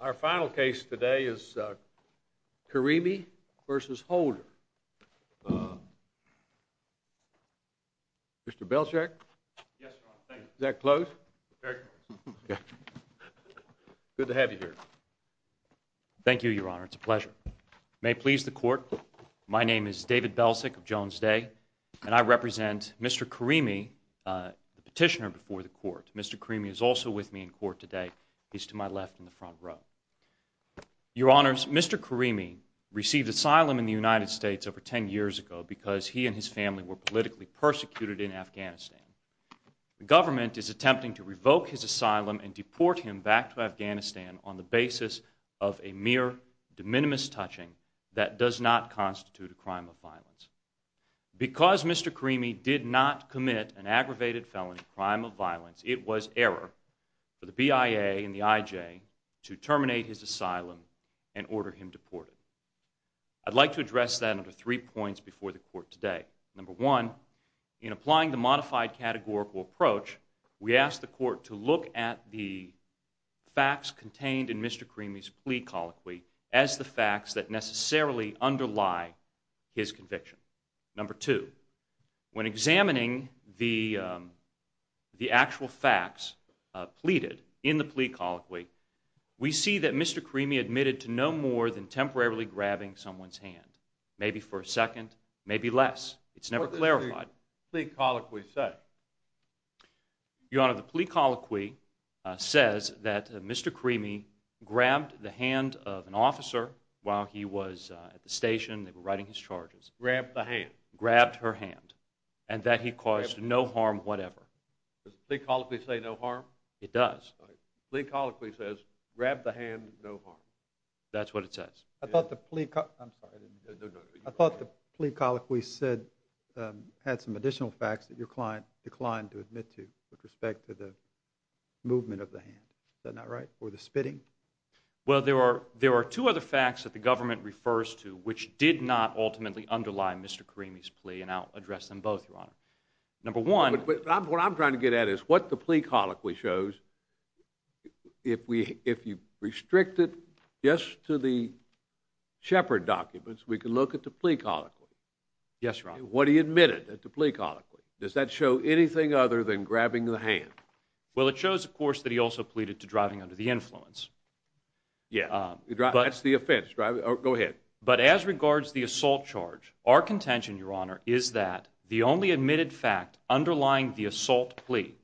Our final case today is Karimi v. Holder. Mr. Belszyk? Yes, Your Honor. Thank you. Is that close? Very close. Good to have you here. Thank you, Your Honor. It's a pleasure. May it please the Court, my name is David Belszyk of Jones Day, and I represent Mr. Karimi, the petitioner before the Court. Mr. Karimi is also with me in court today. He's to my left in the front row. Your Honors, Mr. Karimi received asylum in the United States over ten years ago because he and his family were politically persecuted in Afghanistan. The government is attempting to revoke his asylum and deport him back to Afghanistan on the basis of a mere de minimis touching that does not constitute a crime of violence. Because Mr. Karimi did not commit an aggravated felony crime of violence, it was error for the BIA and the IJ to terminate his asylum and order him deported. I'd like to address that under three points before the Court today. Number one, in applying the modified categorical approach, we ask the Court to look at the facts contained in Mr. Karimi's plea colloquy as the facts that necessarily underlie his conviction. Number two, when examining the actual facts pleaded in the plea colloquy, we see that Mr. Karimi admitted to no more than temporarily grabbing someone's hand, maybe for a second, maybe less. It's never clarified. What does the plea colloquy say? Your Honor, the plea colloquy says that Mr. Karimi grabbed the hand of an officer while he was at the station, they were writing his charges. Grabbed the hand. Grabbed her hand. And that he caused no harm whatever. Does the plea colloquy say no harm? It does. The plea colloquy says, grab the hand, no harm. That's what it says. I thought the plea colloquy said, had some additional facts that your client declined to admit to with respect to the movement of the hand. Is that not right? Or the spitting? Well, there are two other facts that the government refers to which did not ultimately underlie Mr. Karimi's plea, and I'll address them both, Your Honor. Number one... What I'm trying to get at is what the plea colloquy shows, if you restrict it just to the Shepard documents, we can look at the plea colloquy. Yes, Your Honor. What he admitted at the plea colloquy. Does that show anything other than grabbing the hand? Well, it shows, of course, that he also pleaded to driving under the influence. Yes, that's the offense. Go ahead. But as regards the assault charge, our contention, Your Honor, is that the only admitted fact underlying the assault plea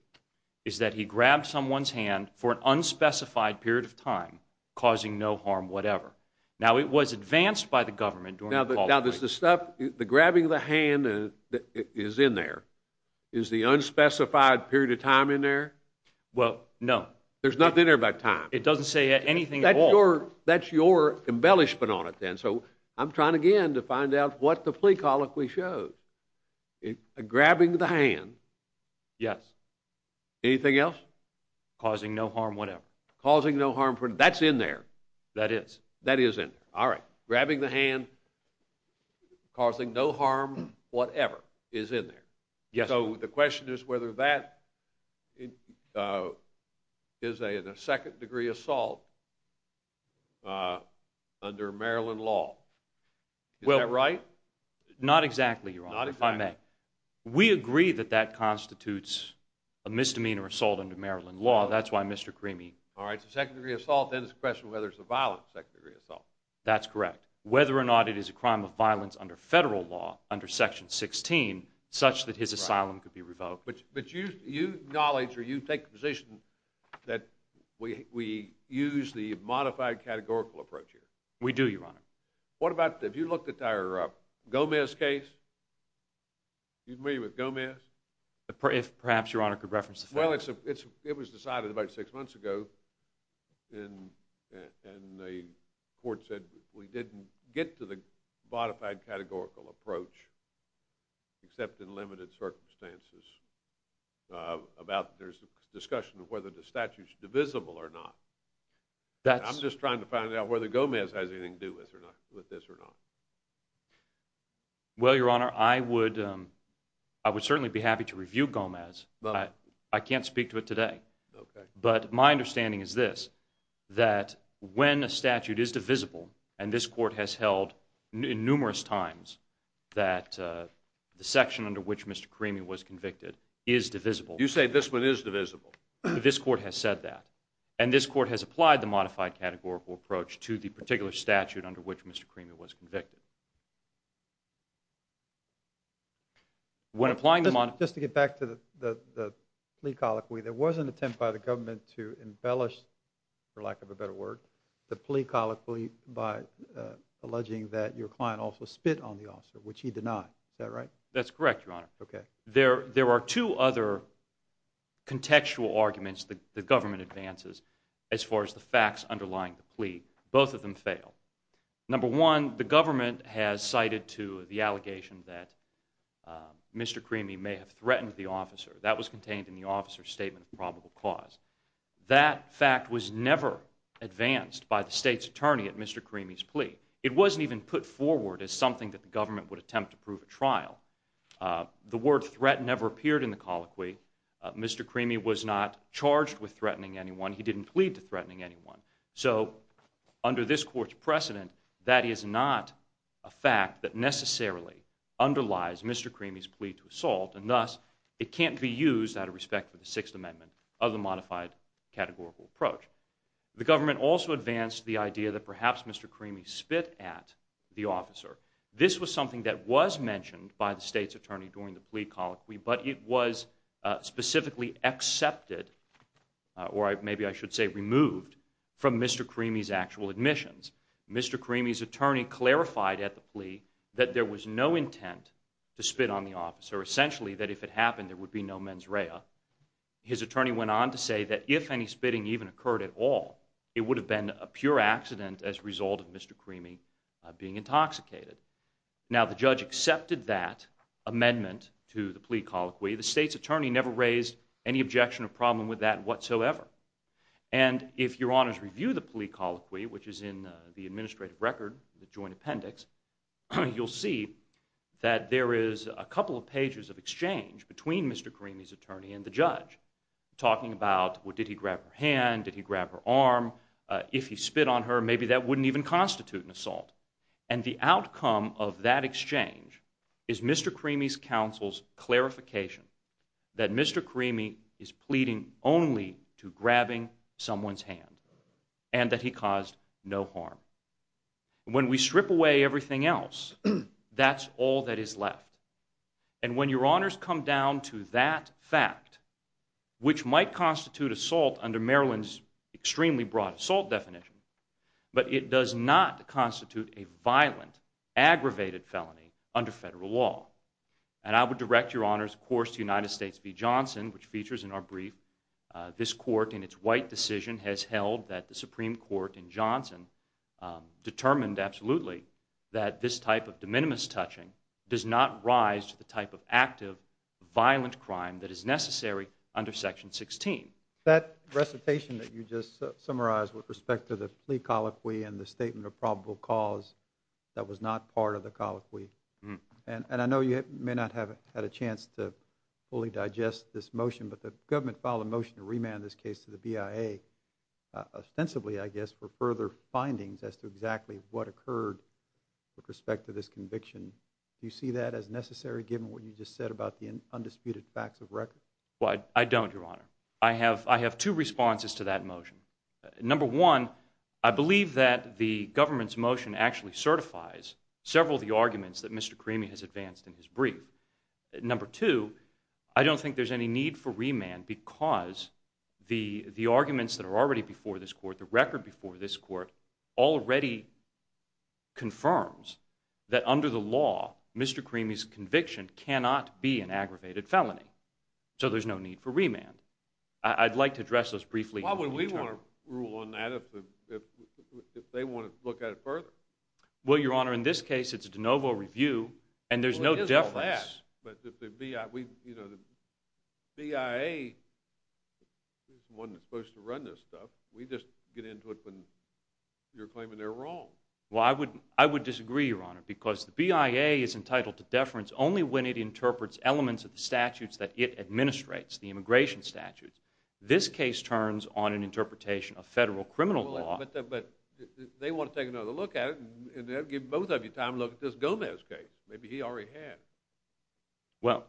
is that he grabbed someone's hand for an unspecified period of time, causing no harm whatever. Now, it was advanced by the government during the plea colloquy. Now, the grabbing of the hand is in there. Is the unspecified period of time in there? Well, no. There's nothing in there about time. It doesn't say anything at all. That's your embellishment on it then, so I'm trying again to find out what the plea colloquy shows. Grabbing the hand... Yes. Anything else? Causing no harm whatever. Causing no harm for... That's in there. That is. That is in there. All right. Grabbing the hand, causing no harm whatever is in there. Yes. So the question is whether that is a second-degree assault under Maryland law. Is that right? Not exactly, Your Honor, if I may. Not exactly. We agree that that constitutes a misdemeanor assault under Maryland law. That's why Mr. Creamy... All right, so second-degree assault, then it's a question of whether it's a violent second-degree assault. That's correct. Whether or not it is a crime of violence under federal law, under Section 16, such that his asylum could be revoked. But you acknowledge or you take the position that we use the modified categorical approach here. We do, Your Honor. What about, if you look at our Gomez case, are you familiar with Gomez? Perhaps Your Honor could reference the film. Well, it was decided about six months ago, and the court said we didn't get to the modified categorical approach except in limited circumstances. There's a discussion of whether the statute is divisible or not. I'm just trying to find out whether Gomez has anything to do with this or not. Well, Your Honor, I would certainly be happy to review Gomez. I can't speak to it today. Okay. But my understanding is this, that when a statute is divisible, and this court has held numerous times that the section under which Mr. Cremey was convicted is divisible. You say this one is divisible. This court has said that, and this court has applied the modified categorical approach to the particular statute under which Mr. Cremey was convicted. Just to get back to the plea colloquy, there was an attempt by the government to embellish, for lack of a better word, the plea colloquy by alleging that your client also spit on the officer, which he denied. Is that right? That's correct, Your Honor. Okay. There are two other contextual arguments the government advances as far as the facts underlying the plea. Both of them fail. Number one, the government has cited to the allegation that Mr. Cremey may have threatened the officer. That was contained in the officer's statement of probable cause. That fact was never advanced by the state's attorney at Mr. Cremey's plea. It wasn't even put forward as something that the government would attempt to prove at trial. The word threat never appeared in the colloquy. Mr. Cremey was not charged with threatening anyone. He didn't plead to threatening anyone. So under this court's precedent, that is not a fact that necessarily underlies Mr. Cremey's plea to assault, and thus it can't be used out of respect for the Sixth Amendment of the modified categorical approach. The government also advanced the idea that perhaps Mr. Cremey spit at the officer. This was something that was mentioned by the state's attorney during the plea colloquy, but it was specifically accepted, or maybe I should say removed, from Mr. Cremey's actual admissions. Mr. Cremey's attorney clarified at the plea that there was no intent to spit on the officer, essentially that if it happened there would be no mens rea. His attorney went on to say that if any spitting even occurred at all, it would have been a pure accident as a result of Mr. Cremey being intoxicated. Now the judge accepted that amendment to the plea colloquy. The state's attorney never raised any objection or problem with that whatsoever. And if your honors review the plea colloquy, which is in the administrative record, the joint appendix, you'll see that there is a couple of pages of exchange between Mr. Cremey's attorney and the judge, talking about did he grab her hand, did he grab her arm, if he spit on her maybe that wouldn't even constitute an assault. And the outcome of that exchange is Mr. Cremey's counsel's clarification that Mr. Cremey is pleading only to grabbing someone's hand, and that he caused no harm. When we strip away everything else, that's all that is left. And when your honors come down to that fact, which might constitute assault under Maryland's extremely broad assault definition, but it does not constitute a violent, aggravated felony under federal law. And I would direct your honors, of course, to United States v. Johnson, which features in our brief. This court in its white decision has held that the Supreme Court in Johnson determined absolutely that this type of de minimis touching does not rise to the type of active, violent crime that is necessary under Section 16. That recitation that you just summarized with respect to the plea colloquy and the statement of probable cause, that was not part of the colloquy. And I know you may not have had a chance to fully digest this motion, but the government filed a motion to remand this case to the BIA, ostensibly, I guess, for further findings as to exactly what occurred with respect to this conviction. Do you see that as necessary, given what you just said about the undisputed facts of record? I don't, your honor. I have two responses to that motion. Number one, I believe that the government's motion actually certifies several of the arguments that Mr. Cremey has advanced in his brief. Number two, I don't think there's any need for remand because the arguments that are already before this court, the record before this court, already confirms that under the law, Mr. Cremey's conviction cannot be an aggravated felony. So there's no need for remand. I'd like to address those briefly. Why would we want to rule on that if they want to look at it further? Well, your honor, in this case, it's a de novo review, and there's no deference. Well, it is all that, but the BIA, you know, the BIA isn't the one that's supposed to run this stuff. We just get into it when you're claiming they're wrong. Well, I would disagree, your honor, because the BIA is entitled to deference only when it interprets elements of the statutes that it administrates, the immigration statutes. This case turns on an interpretation of federal criminal law. But they want to take another look at it, and they'll give both of you time to look at this Gomez case. Maybe he already had.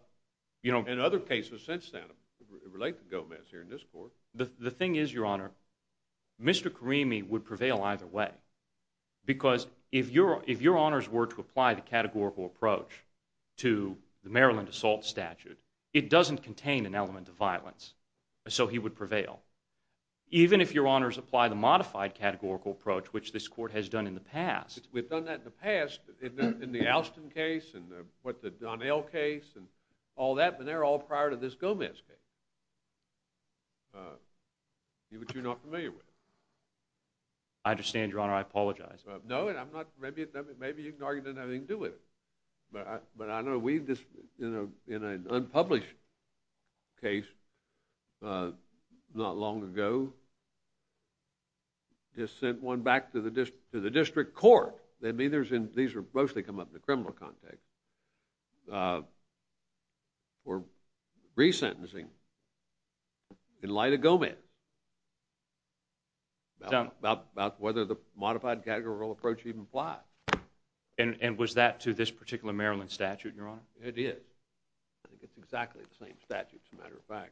And other cases since then relate to Gomez here in this court. The thing is, your honor, Mr. Cremey would prevail either way, because if your honors were to apply the categorical approach to the Maryland assault statute, it doesn't contain an element of violence, so he would prevail. Even if your honors apply the modified categorical approach, which this court has done in the past. We've done that in the past, in the Alston case and the Donnell case and all that, but they're all prior to this Gomez case, which you're not familiar with. I understand, your honor. I apologize. No, maybe you can argue it doesn't have anything to do with it. But I know we just, in an unpublished case not long ago, just sent one back to the district court. These mostly come up in the criminal context. We're resentencing in light of Gomez, about whether the modified categorical approach even applies. And was that to this particular Maryland statute, your honor? It is. I think it's exactly the same statute, as a matter of fact.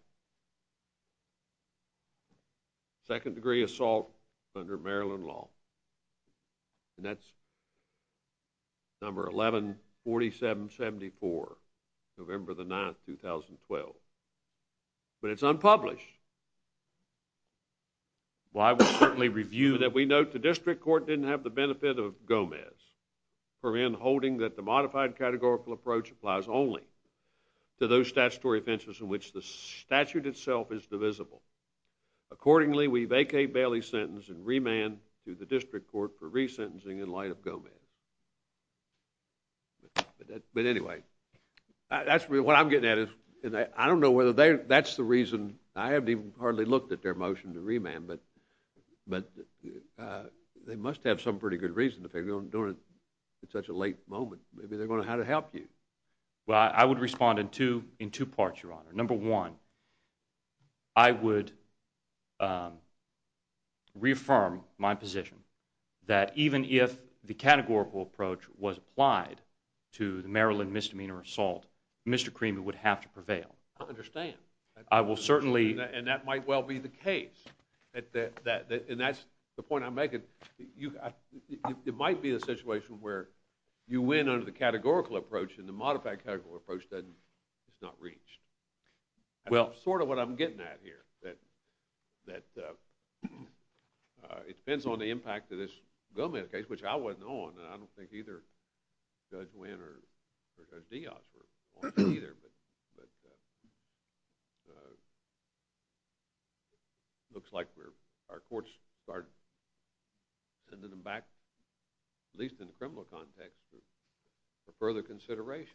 Second degree assault under Maryland law. And that's number 114774, November the 9th, 2012. But it's unpublished. Well, I would certainly review that we note the district court didn't have the benefit of Gomez. For in holding that the modified categorical approach applies only to those statutory offenses in which the statute itself is divisible. Accordingly, we vacate Bailey's sentence and remand to the district court for resentencing in light of Gomez. But anyway, that's what I'm getting at. I don't know whether that's the reason. I haven't even hardly looked at their motion to remand, but they must have some pretty good reason if they're doing it at such a late moment. Maybe they're going to have to help you. Well, I would respond in two parts, your honor. Number one, I would reaffirm my position that even if the categorical approach was applied to the Maryland misdemeanor assault, Mr. Creamer would have to prevail. I understand. I will certainly... And that might well be the case. And that's the point I'm making. It might be a situation where you win under the categorical approach, and the modified categorical approach is not reached. Well, that's sort of what I'm getting at here, that it depends on the impact of this Gomez case, which I wasn't on, and I don't think either Judge Wynn or Judge Diaz were on it either. It looks like our courts started sending them back, at least in the criminal context, for further consideration.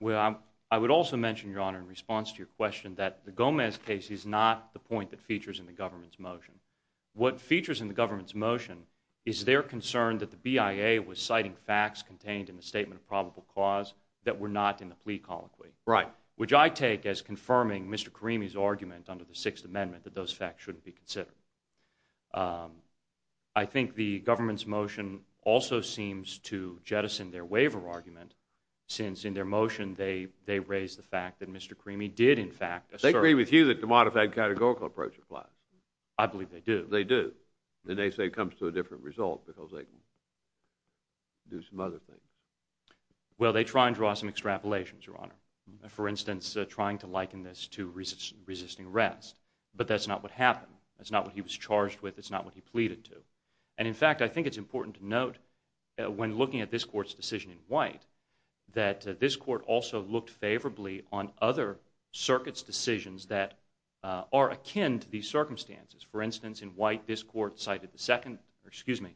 Well, I would also mention, your honor, in response to your question, that the Gomez case is not the point that features in the government's motion. What features in the government's motion is their concern that the BIA was citing facts contained in the Statement of Probable Cause that were not in the plea colloquy. Right. under the Sixth Amendment that those facts shouldn't be considered. I think the government's motion also seems to jettison their waiver argument, since in their motion they raise the fact that Mr. Cremey did in fact assert... They agree with you that the modified categorical approach applies. I believe they do. They do. Then they say it comes to a different result because they can do some other things. Well, they try and draw some extrapolations, your honor. For instance, trying to liken this to resisting arrest, but that's not what happened. That's not what he was charged with. That's not what he pleaded to. And in fact, I think it's important to note when looking at this court's decision in White that this court also looked favorably on other circuits' decisions that are akin to these circumstances. For instance, in White, this court cited the Second... Excuse me,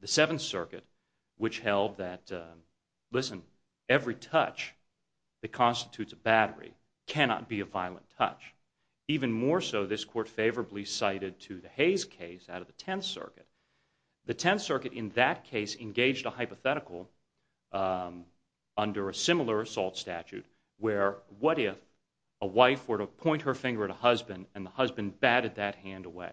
the Seventh Circuit, which held that, listen, every touch that constitutes a battery cannot be a violent touch. Even more so, this court favorably cited to the Hayes case out of the Tenth Circuit. The Tenth Circuit in that case engaged a hypothetical under a similar assault statute where what if a wife were to point her finger at a husband and the husband batted that hand away?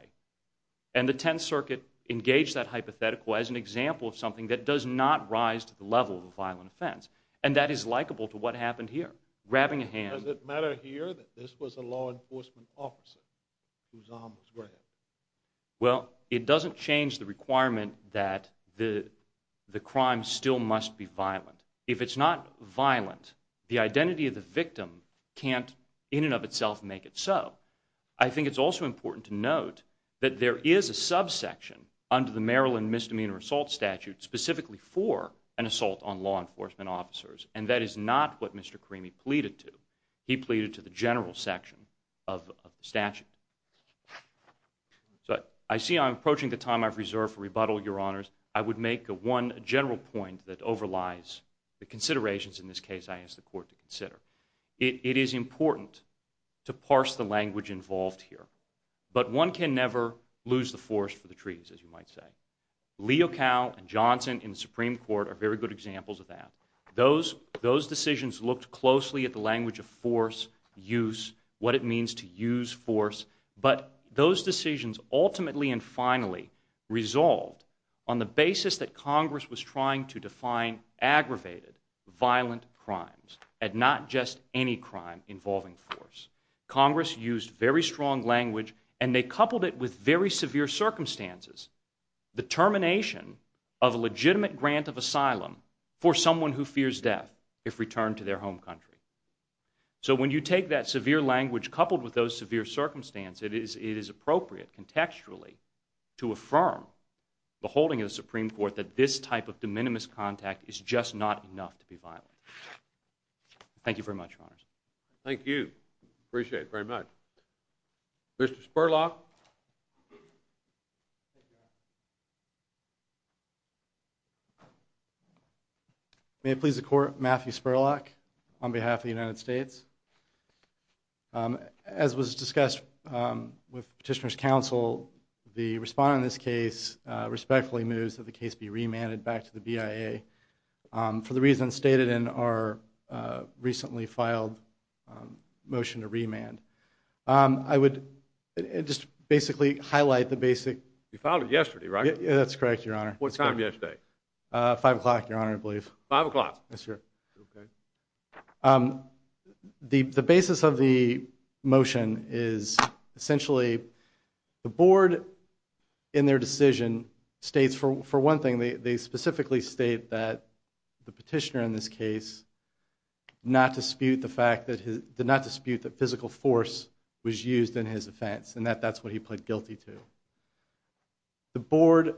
And the Tenth Circuit engaged that hypothetical as an example of something that does not rise to the level of a violent offense. And that is likable to what happened here. Grabbing a hand... Does it matter here that this was a law enforcement officer whose arm was grabbed? Well, it doesn't change the requirement that the crime still must be violent. If it's not violent, the identity of the victim can't in and of itself make it so. I think it's also important to note that there is a subsection under the Maryland Misdemeanor Assault Statute specifically for an assault on law enforcement officers, and that is not what Mr. Creamy pleaded to. He pleaded to the general section of the statute. So I see I'm approaching the time I've reserved for rebuttal, Your Honors. I would make one general point that overlies the considerations in this case I ask the Court to consider. It is important to parse the language involved here. But one can never lose the forest for the trees, as you might say. Leo Cowell and Johnson in the Supreme Court are very good examples of that. Those decisions looked closely at the language of force, use, what it means to use force. But those decisions ultimately and finally resolved on the basis that Congress was trying to define aggravated violent crimes and not just any crime involving force. Congress used very strong language, and they coupled it with very severe circumstances. The termination of a legitimate grant of asylum for someone who fears death if returned to their home country. So when you take that severe language coupled with those severe circumstances, it is appropriate contextually to affirm the holding of the Supreme Court that this type of de minimis contact is just not enough to be violent. Thank you very much, Your Honors. Thank you. Appreciate it very much. Mr. Spurlock? May it please the Court, Matthew Spurlock, on behalf of the United States. As was discussed with Petitioner's Counsel, the respondent in this case respectfully moves that the case be remanded back to the BIA for the reasons stated in our recently filed motion to remand. I would just basically highlight the basic... You filed it yesterday, right? That's correct, Your Honor. What time yesterday? 5 o'clock, Your Honor, I believe. 5 o'clock. Yes, sir. Okay. The basis of the motion is essentially the board in their decision states, for one thing, they specifically state that the petitioner in this case did not dispute that physical force was used in his offense and that that's what he pled guilty to. The board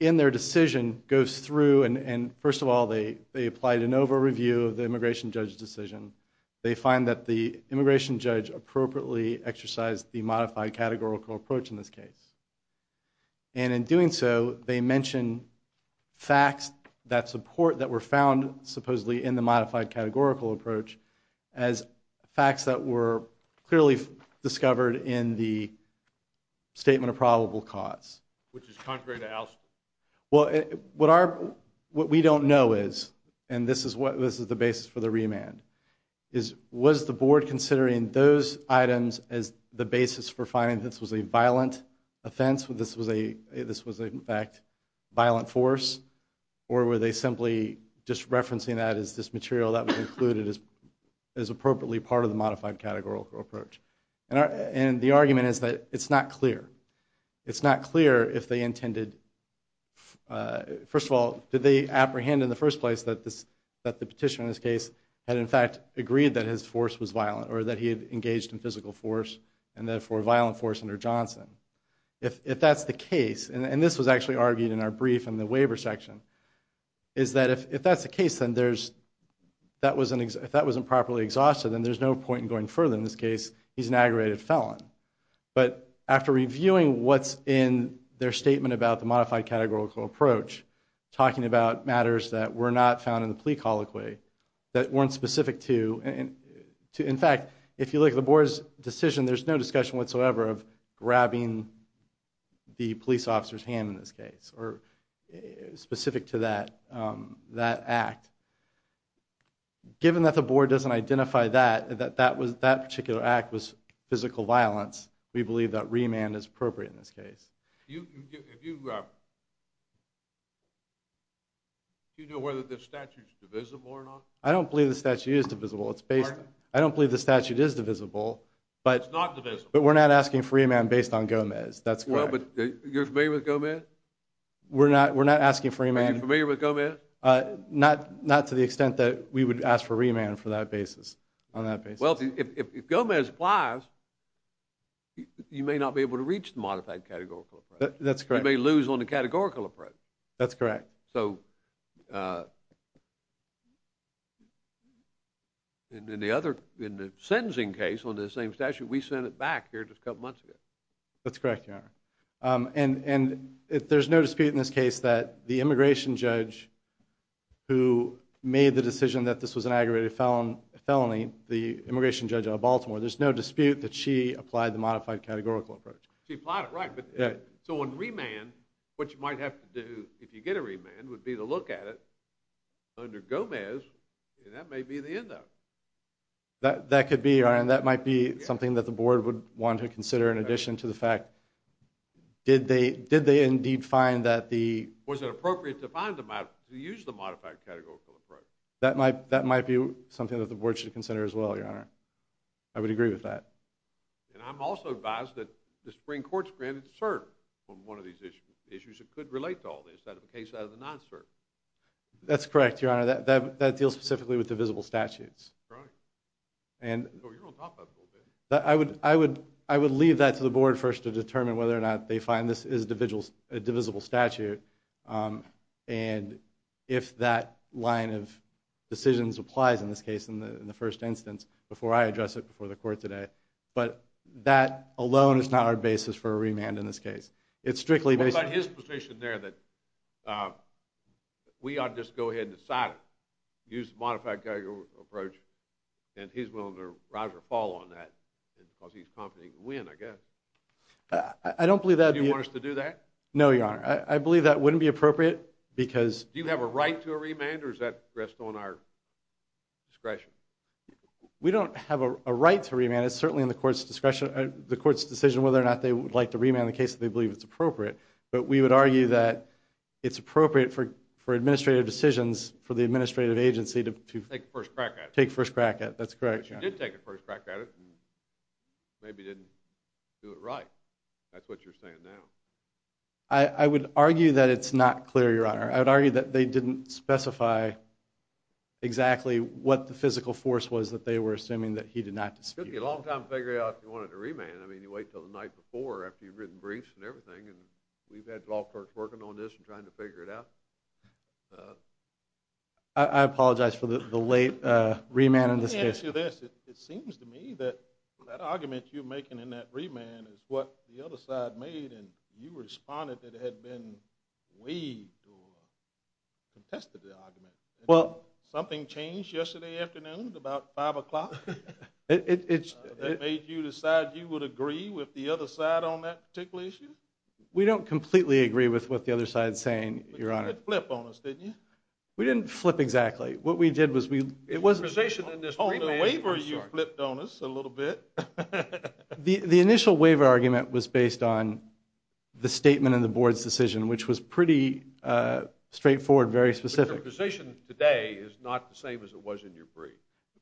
in their decision goes through and, first of all, they apply de novo review of the immigration judge's decision. They find that the immigration judge appropriately exercised the modified categorical approach in this case. And in doing so, they mention facts that support that were found, supposedly, in the modified categorical approach as facts that were clearly discovered in the statement of probable cause. Which is contrary to Al's... Well, what we don't know is, and this is the basis for the remand, is was the board considering those items as the basis for finding this was a violent offense, this was, in fact, a violent force, or were they simply just referencing that as this material that was included as appropriately part of the modified categorical approach? And the argument is that it's not clear. It's not clear if they intended... First of all, did they apprehend in the first place that the petitioner in this case had, in fact, agreed that his force was violent or that he had engaged in physical force and, therefore, violent force under Johnson? If that's the case, and this was actually argued in our brief in the waiver section, is that if that's the case, then if that wasn't properly exhausted, then there's no point in going further in this case because he's an aggravated felon. But after reviewing what's in their statement about the modified categorical approach, talking about matters that were not found in the plea colloquy, that weren't specific to... In fact, if you look at the board's decision, there's no discussion whatsoever of grabbing the police officer's hand in this case or specific to that act. Given that the board doesn't identify that, that that particular act was physical violence, we believe that remand is appropriate in this case. Do you know whether the statute's divisible or not? I don't believe the statute is divisible. I don't believe the statute is divisible. It's not divisible. But we're not asking for remand based on Gomez. You're familiar with Gomez? We're not asking for remand... Are you familiar with Gomez? Not to the extent that we would ask for remand for that basis, on that basis. Well, if Gomez applies, you may not be able to reach the modified categorical approach. That's correct. You may lose on the categorical approach. That's correct. So... In the other... In the sentencing case on the same statute, we sent it back here just a couple months ago. That's correct, Your Honor. And there's no dispute in this case that the immigration judge who made the decision that this was an aggravated felony, the immigration judge out of Baltimore, there's no dispute that she applied the modified categorical approach. She applied it, right. So on remand, what you might have to do if you get a remand would be to look at it under Gomez, and that may be the end of it. That could be, Your Honor, and that might be something that the board would want to consider in addition to the fact... Did they indeed find that the... To use the modified categorical approach. That might be something that the board should consider as well, Your Honor. I would agree with that. And I'm also advised that the Supreme Court's granted cert on one of these issues. Issues that could relate to all this, that of a case out of the non-cert. That's correct, Your Honor. That deals specifically with divisible statutes. Right. So you're on top of it a little bit. I would leave that to the board first to determine whether or not they find this is a divisible statute, and if that line of decisions applies in this case in the first instance before I address it before the court today. But that alone is not our basis for a remand in this case. It's strictly based on... What about his position there that we ought to just go ahead and decide it, use the modified categorical approach, and he's willing to rise or fall on that because he's confident he can win, I guess. I don't believe that... Do you want us to do that? No, Your Honor. I believe that wouldn't be appropriate because... Do you have a right to a remand, or is that rest on our discretion? We don't have a right to remand. It's certainly in the court's discretion, the court's decision whether or not they would like to remand the case if they believe it's appropriate. But we would argue that it's appropriate for administrative decisions, for the administrative agency to... Take a first crack at it. Take a first crack at it. That's correct, Your Honor. But you did take a first crack at it and maybe didn't do it right. That's what you're saying now. I would argue that it's not clear, Your Honor. I would argue that they didn't specify exactly what the physical force was that they were assuming that he did not dispute. It took you a long time to figure out if you wanted to remand. I mean, you wait until the night before after you've written briefs and everything, and we've had law clerks working on this and trying to figure it out. I apologize for the late remand and dispute. Let me ask you this. It seems to me that that argument you're making in that remand is what the other side made and you responded that it had been waived or contested the argument. Something changed yesterday afternoon at about 5 o'clock? That made you decide you would agree with the other side on that particular issue? We don't completely agree with what the other side's saying, Your Honor. But you didn't flip on us, did you? We didn't flip exactly. What we did was we... In your position in this remand, you flipped on us a little bit. The initial waiver argument was based on the statement in the board's decision, which was pretty straightforward, very specific. But your position today is not the same as it was in your brief.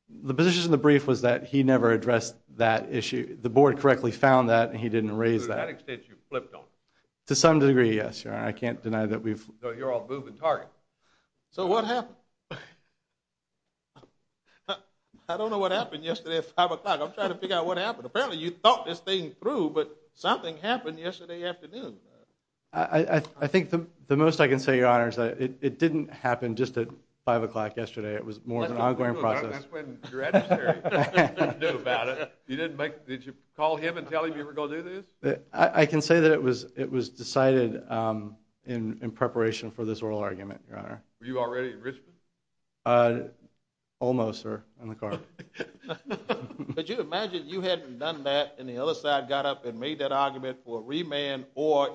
The position in the brief was that he never addressed that issue. The board correctly found that, and he didn't raise that. So to that extent, you flipped on us? To some degree, yes, Your Honor. I can't deny that we've... So you're all moving target. So what happened? I don't know what happened yesterday at 5 o'clock. I'm trying to figure out what happened. Apparently, you thought this thing through, but something happened yesterday afternoon. I think the most I can say, Your Honor, is that it didn't happen just at 5 o'clock yesterday. It was more of an ongoing process. That's when your adversary knew about it. You didn't make... Did you call him and tell him you were going to do this? I can say that it was decided in preparation for this oral argument, Your Honor. Were you already in Richmond? Almost, sir, in the car. But you imagine you hadn't done that, and the other side got up and made that argument for a remand or,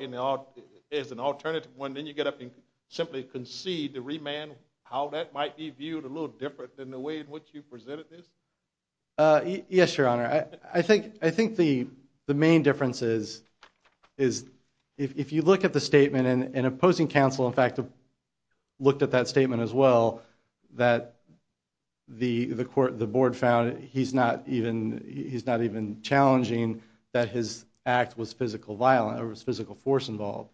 as an alternative one, then you get up and simply concede the remand, how that might be viewed a little different than the way in which you presented this? Yes, Your Honor. I think the main difference is, if you look at the statement, and opposing counsel, in fact, looked at that statement as well, that the board found he's not even challenging that his act was physical violence, or was physical force involved.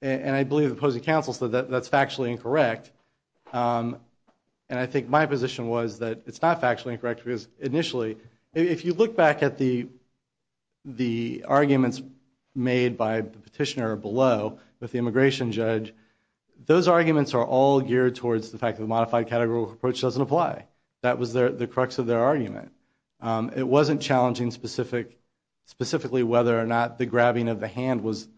And I believe the opposing counsel said that's factually incorrect. And I think my position was that it's not factually incorrect, because, initially, if you look back at the arguments made by the petitioner below with the immigration judge, those arguments are all geared towards the fact that a modified categorical approach doesn't apply. That was the crux of their argument. It wasn't challenging specifically whether or not the grabbing of the hand was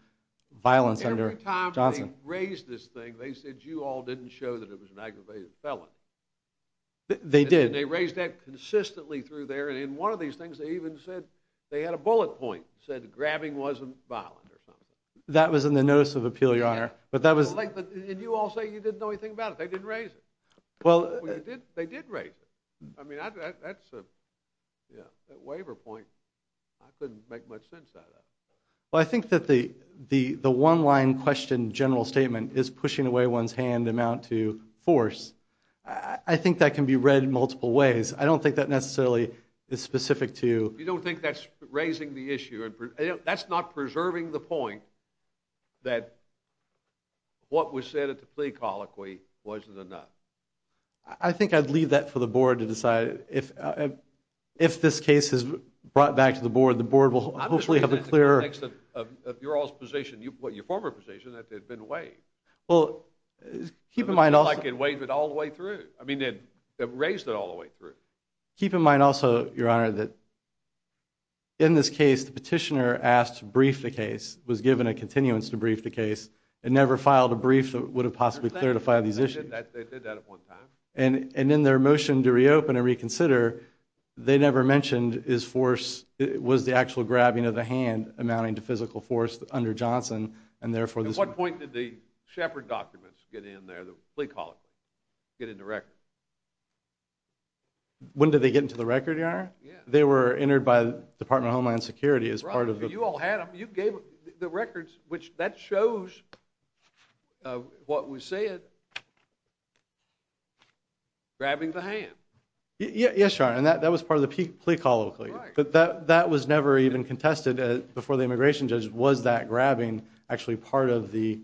violence under Johnson. Every time they raised this thing, they said you all didn't show that it was an aggravated felon. They did. And they raised that consistently through there, and in one of these things, said grabbing wasn't violent or something. That was in the notice of appeal, Your Honor. And you all say you didn't know anything about it. They didn't raise it. Well, they did raise it. I mean, that's a waiver point. I couldn't make much sense out of it. Well, I think that the one-line question general statement is pushing away one's hand amount to force. I think that can be read in multiple ways. I don't think that necessarily is specific to... You don't think that's raising the issue? That's not preserving the point that what was said at the plea colloquy wasn't enough? I think I'd leave that for the board to decide. If this case is brought back to the board, the board will hopefully have a clearer... I'm just saying that in the context of your all's position, your former position, that they've been waived. Well, keep in mind also... It's like they've waived it all the way through. I mean, they've raised it all the way through. Keep in mind also, Your Honor, that in this case, the petitioner asked to brief the case, was given a continuance to brief the case, and never filed a brief that would have possibly clarified these issues. They did that at one time. And in their motion to reopen and reconsider, they never mentioned was the actual grabbing of the hand amounting to physical force under Johnson, and therefore... At what point did the Shepard documents get in there, the plea colloquy, get into record? When did they get into the record, Your Honor? They were entered by Department of Homeland Security as part of the... You all had them. You gave the records, which that shows what was said. Grabbing the hand. Yes, Your Honor, and that was part of the plea colloquy. Right. But that was never even contested before the immigration judge was that grabbing actually part of the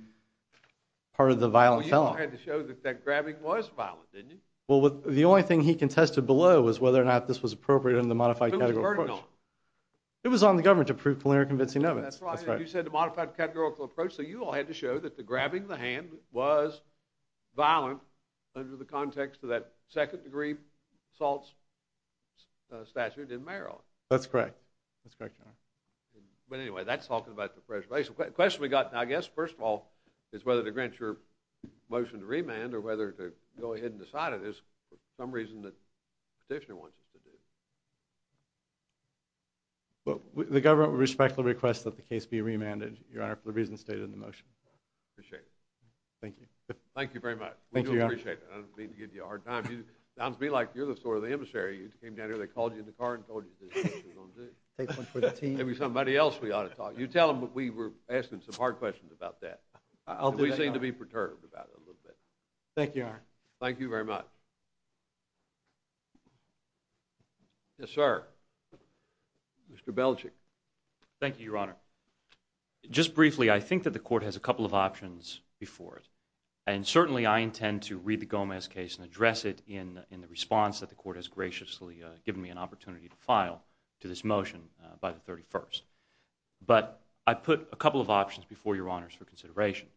violent felon. Well, you had to show that that grabbing was violent, didn't you? Well, the only thing he contested below was whether or not this was appropriate under the modified category of force. Who was he learning on? It was on the government to prove Palermo convincing evidence. That's right. You said the modified categorical approach, so you all had to show that the grabbing the hand was violent under the context of that second-degree assault statute in Maryland. That's correct. That's correct, Your Honor. But anyway, that's talking about the press release. The question we got, I guess, first of all, is whether to grant your motion to remand or whether to go ahead and decide it for some reason that the petitioner wants us to do. Well, the government would respectfully request that the case be remanded, Your Honor, for the reasons stated in the motion. Appreciate it. Thank you. Thank you very much. Thank you, Your Honor. We do appreciate it. I don't mean to give you a hard time. It sounds to me like you're the store of the emissary. You came down here, they called you in the car and told you this is what you were going to do. Take one for the team. Maybe somebody else we ought to talk to. You tell them we were asking some hard questions about that. I'll do that, Your Honor. We seem to be perturbed about it a little bit. Thank you, Your Honor. Thank you very much. Yes, sir. Mr. Belichick. Thank you, Your Honor. Just briefly, I think that the court has a couple of options before it. And certainly, I intend to read the Gomez case and address it in the response that the court has graciously given me an opportunity to file to this motion by the 31st. But I put a couple of options before Your Honors for consideration.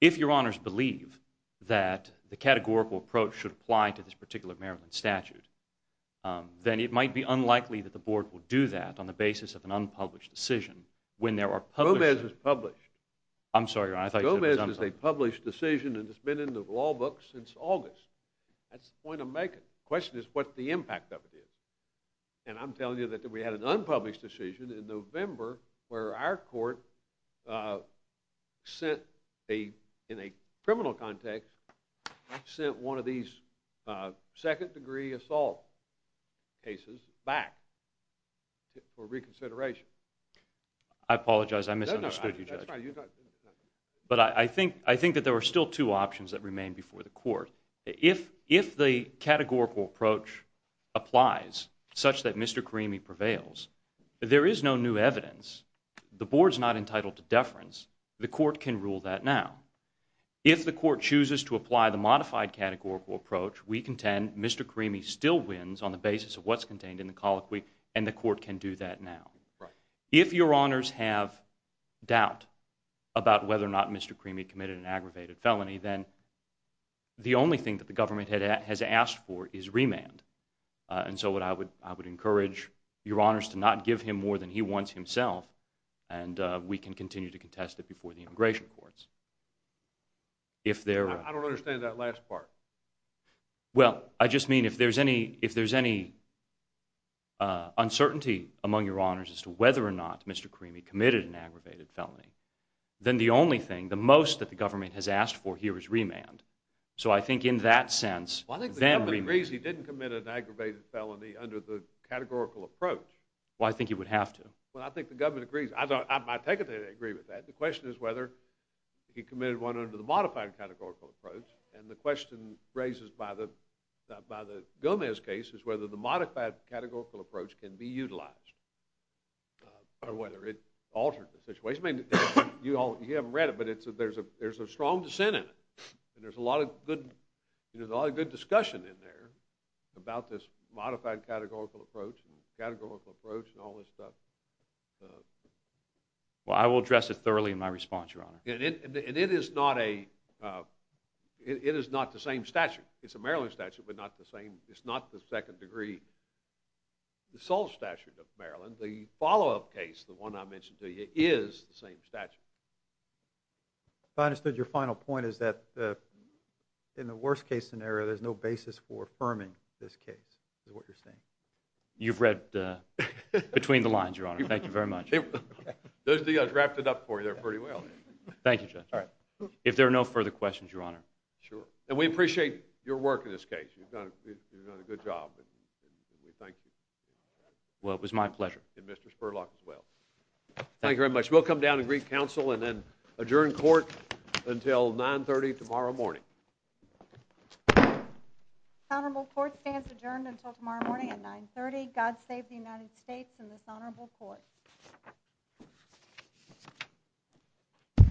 If Your Honors believe that the categorical approach should apply to this particular Maryland statute, then it might be unlikely that the board will do that on the basis of an unpublished decision when there are published... Gomez is published. I'm sorry, Your Honor. I thought you said it was unpublished. Gomez is a published decision and it's been in the law book since August. That's the point I'm making. The question is what the impact of it is. And I'm telling you that we had an unpublished decision in November where our court sent a... in a criminal context, sent one of these second degree assault cases back for reconsideration. I apologize. I misunderstood you, Judge. But I think that there were still two options that remained before the court. If the categorical approach applies such that Mr. Carimi prevails, there is no new evidence. The board's not entitled to deference. The court can rule that now. If the court chooses to apply the modified categorical approach, we contend Mr. Carimi still wins on the basis of what's contained in the colloquy and the court can do that now. If Your Honors have doubt about whether or not Mr. Carimi committed an aggravated felony, then the only thing that the government has asked for is remand. And so I would encourage Your Honors to not give him more than he wants himself and we can continue to contest it before the immigration courts. I don't understand that last part. Well, I just mean if there's any uncertainty among Your Honors as to whether or not Mr. Carimi committed an aggravated felony, then the only thing, the most that the government has asked for here is remand. So I think in that sense... Well, I think the government agrees he didn't commit an aggravated felony under the categorical approach. Well, I think he would have to. Well, I think the government agrees. I take it they agree with that. The question is whether he committed one under the modified categorical approach and the question raised by the Gomez case is whether the modified categorical approach can be utilized or whether it altered the situation. I mean, you haven't read it, but there's a strong dissent in it and there's a lot of good discussion in there about this modified categorical approach and categorical approach and all this stuff. Well, I will address it thoroughly in my response, Your Honor. And it is not the same statute. It's a Maryland statute, but it's not the second degree assault statute of Maryland. The follow-up case, the one I mentioned to you, is the same statute. If I understood your final point, is that in the worst case scenario, there's no basis for affirming this case, is what you're saying? You've read between the lines, Your Honor. Thank you very much. Those two guys wrapped it up for you there pretty well. Thank you, Judge. All right. If there are no further questions, Your Honor. Sure. And we appreciate your work in this case. You've done a good job and we thank you. Well, it was my pleasure. And Mr. Spurlock as well. Thank you very much. Judge, we'll come down and greet counsel and then adjourn court until 9.30 tomorrow morning. The honorable court stands adjourned until tomorrow morning at 9.30. God save the United States and this honorable court.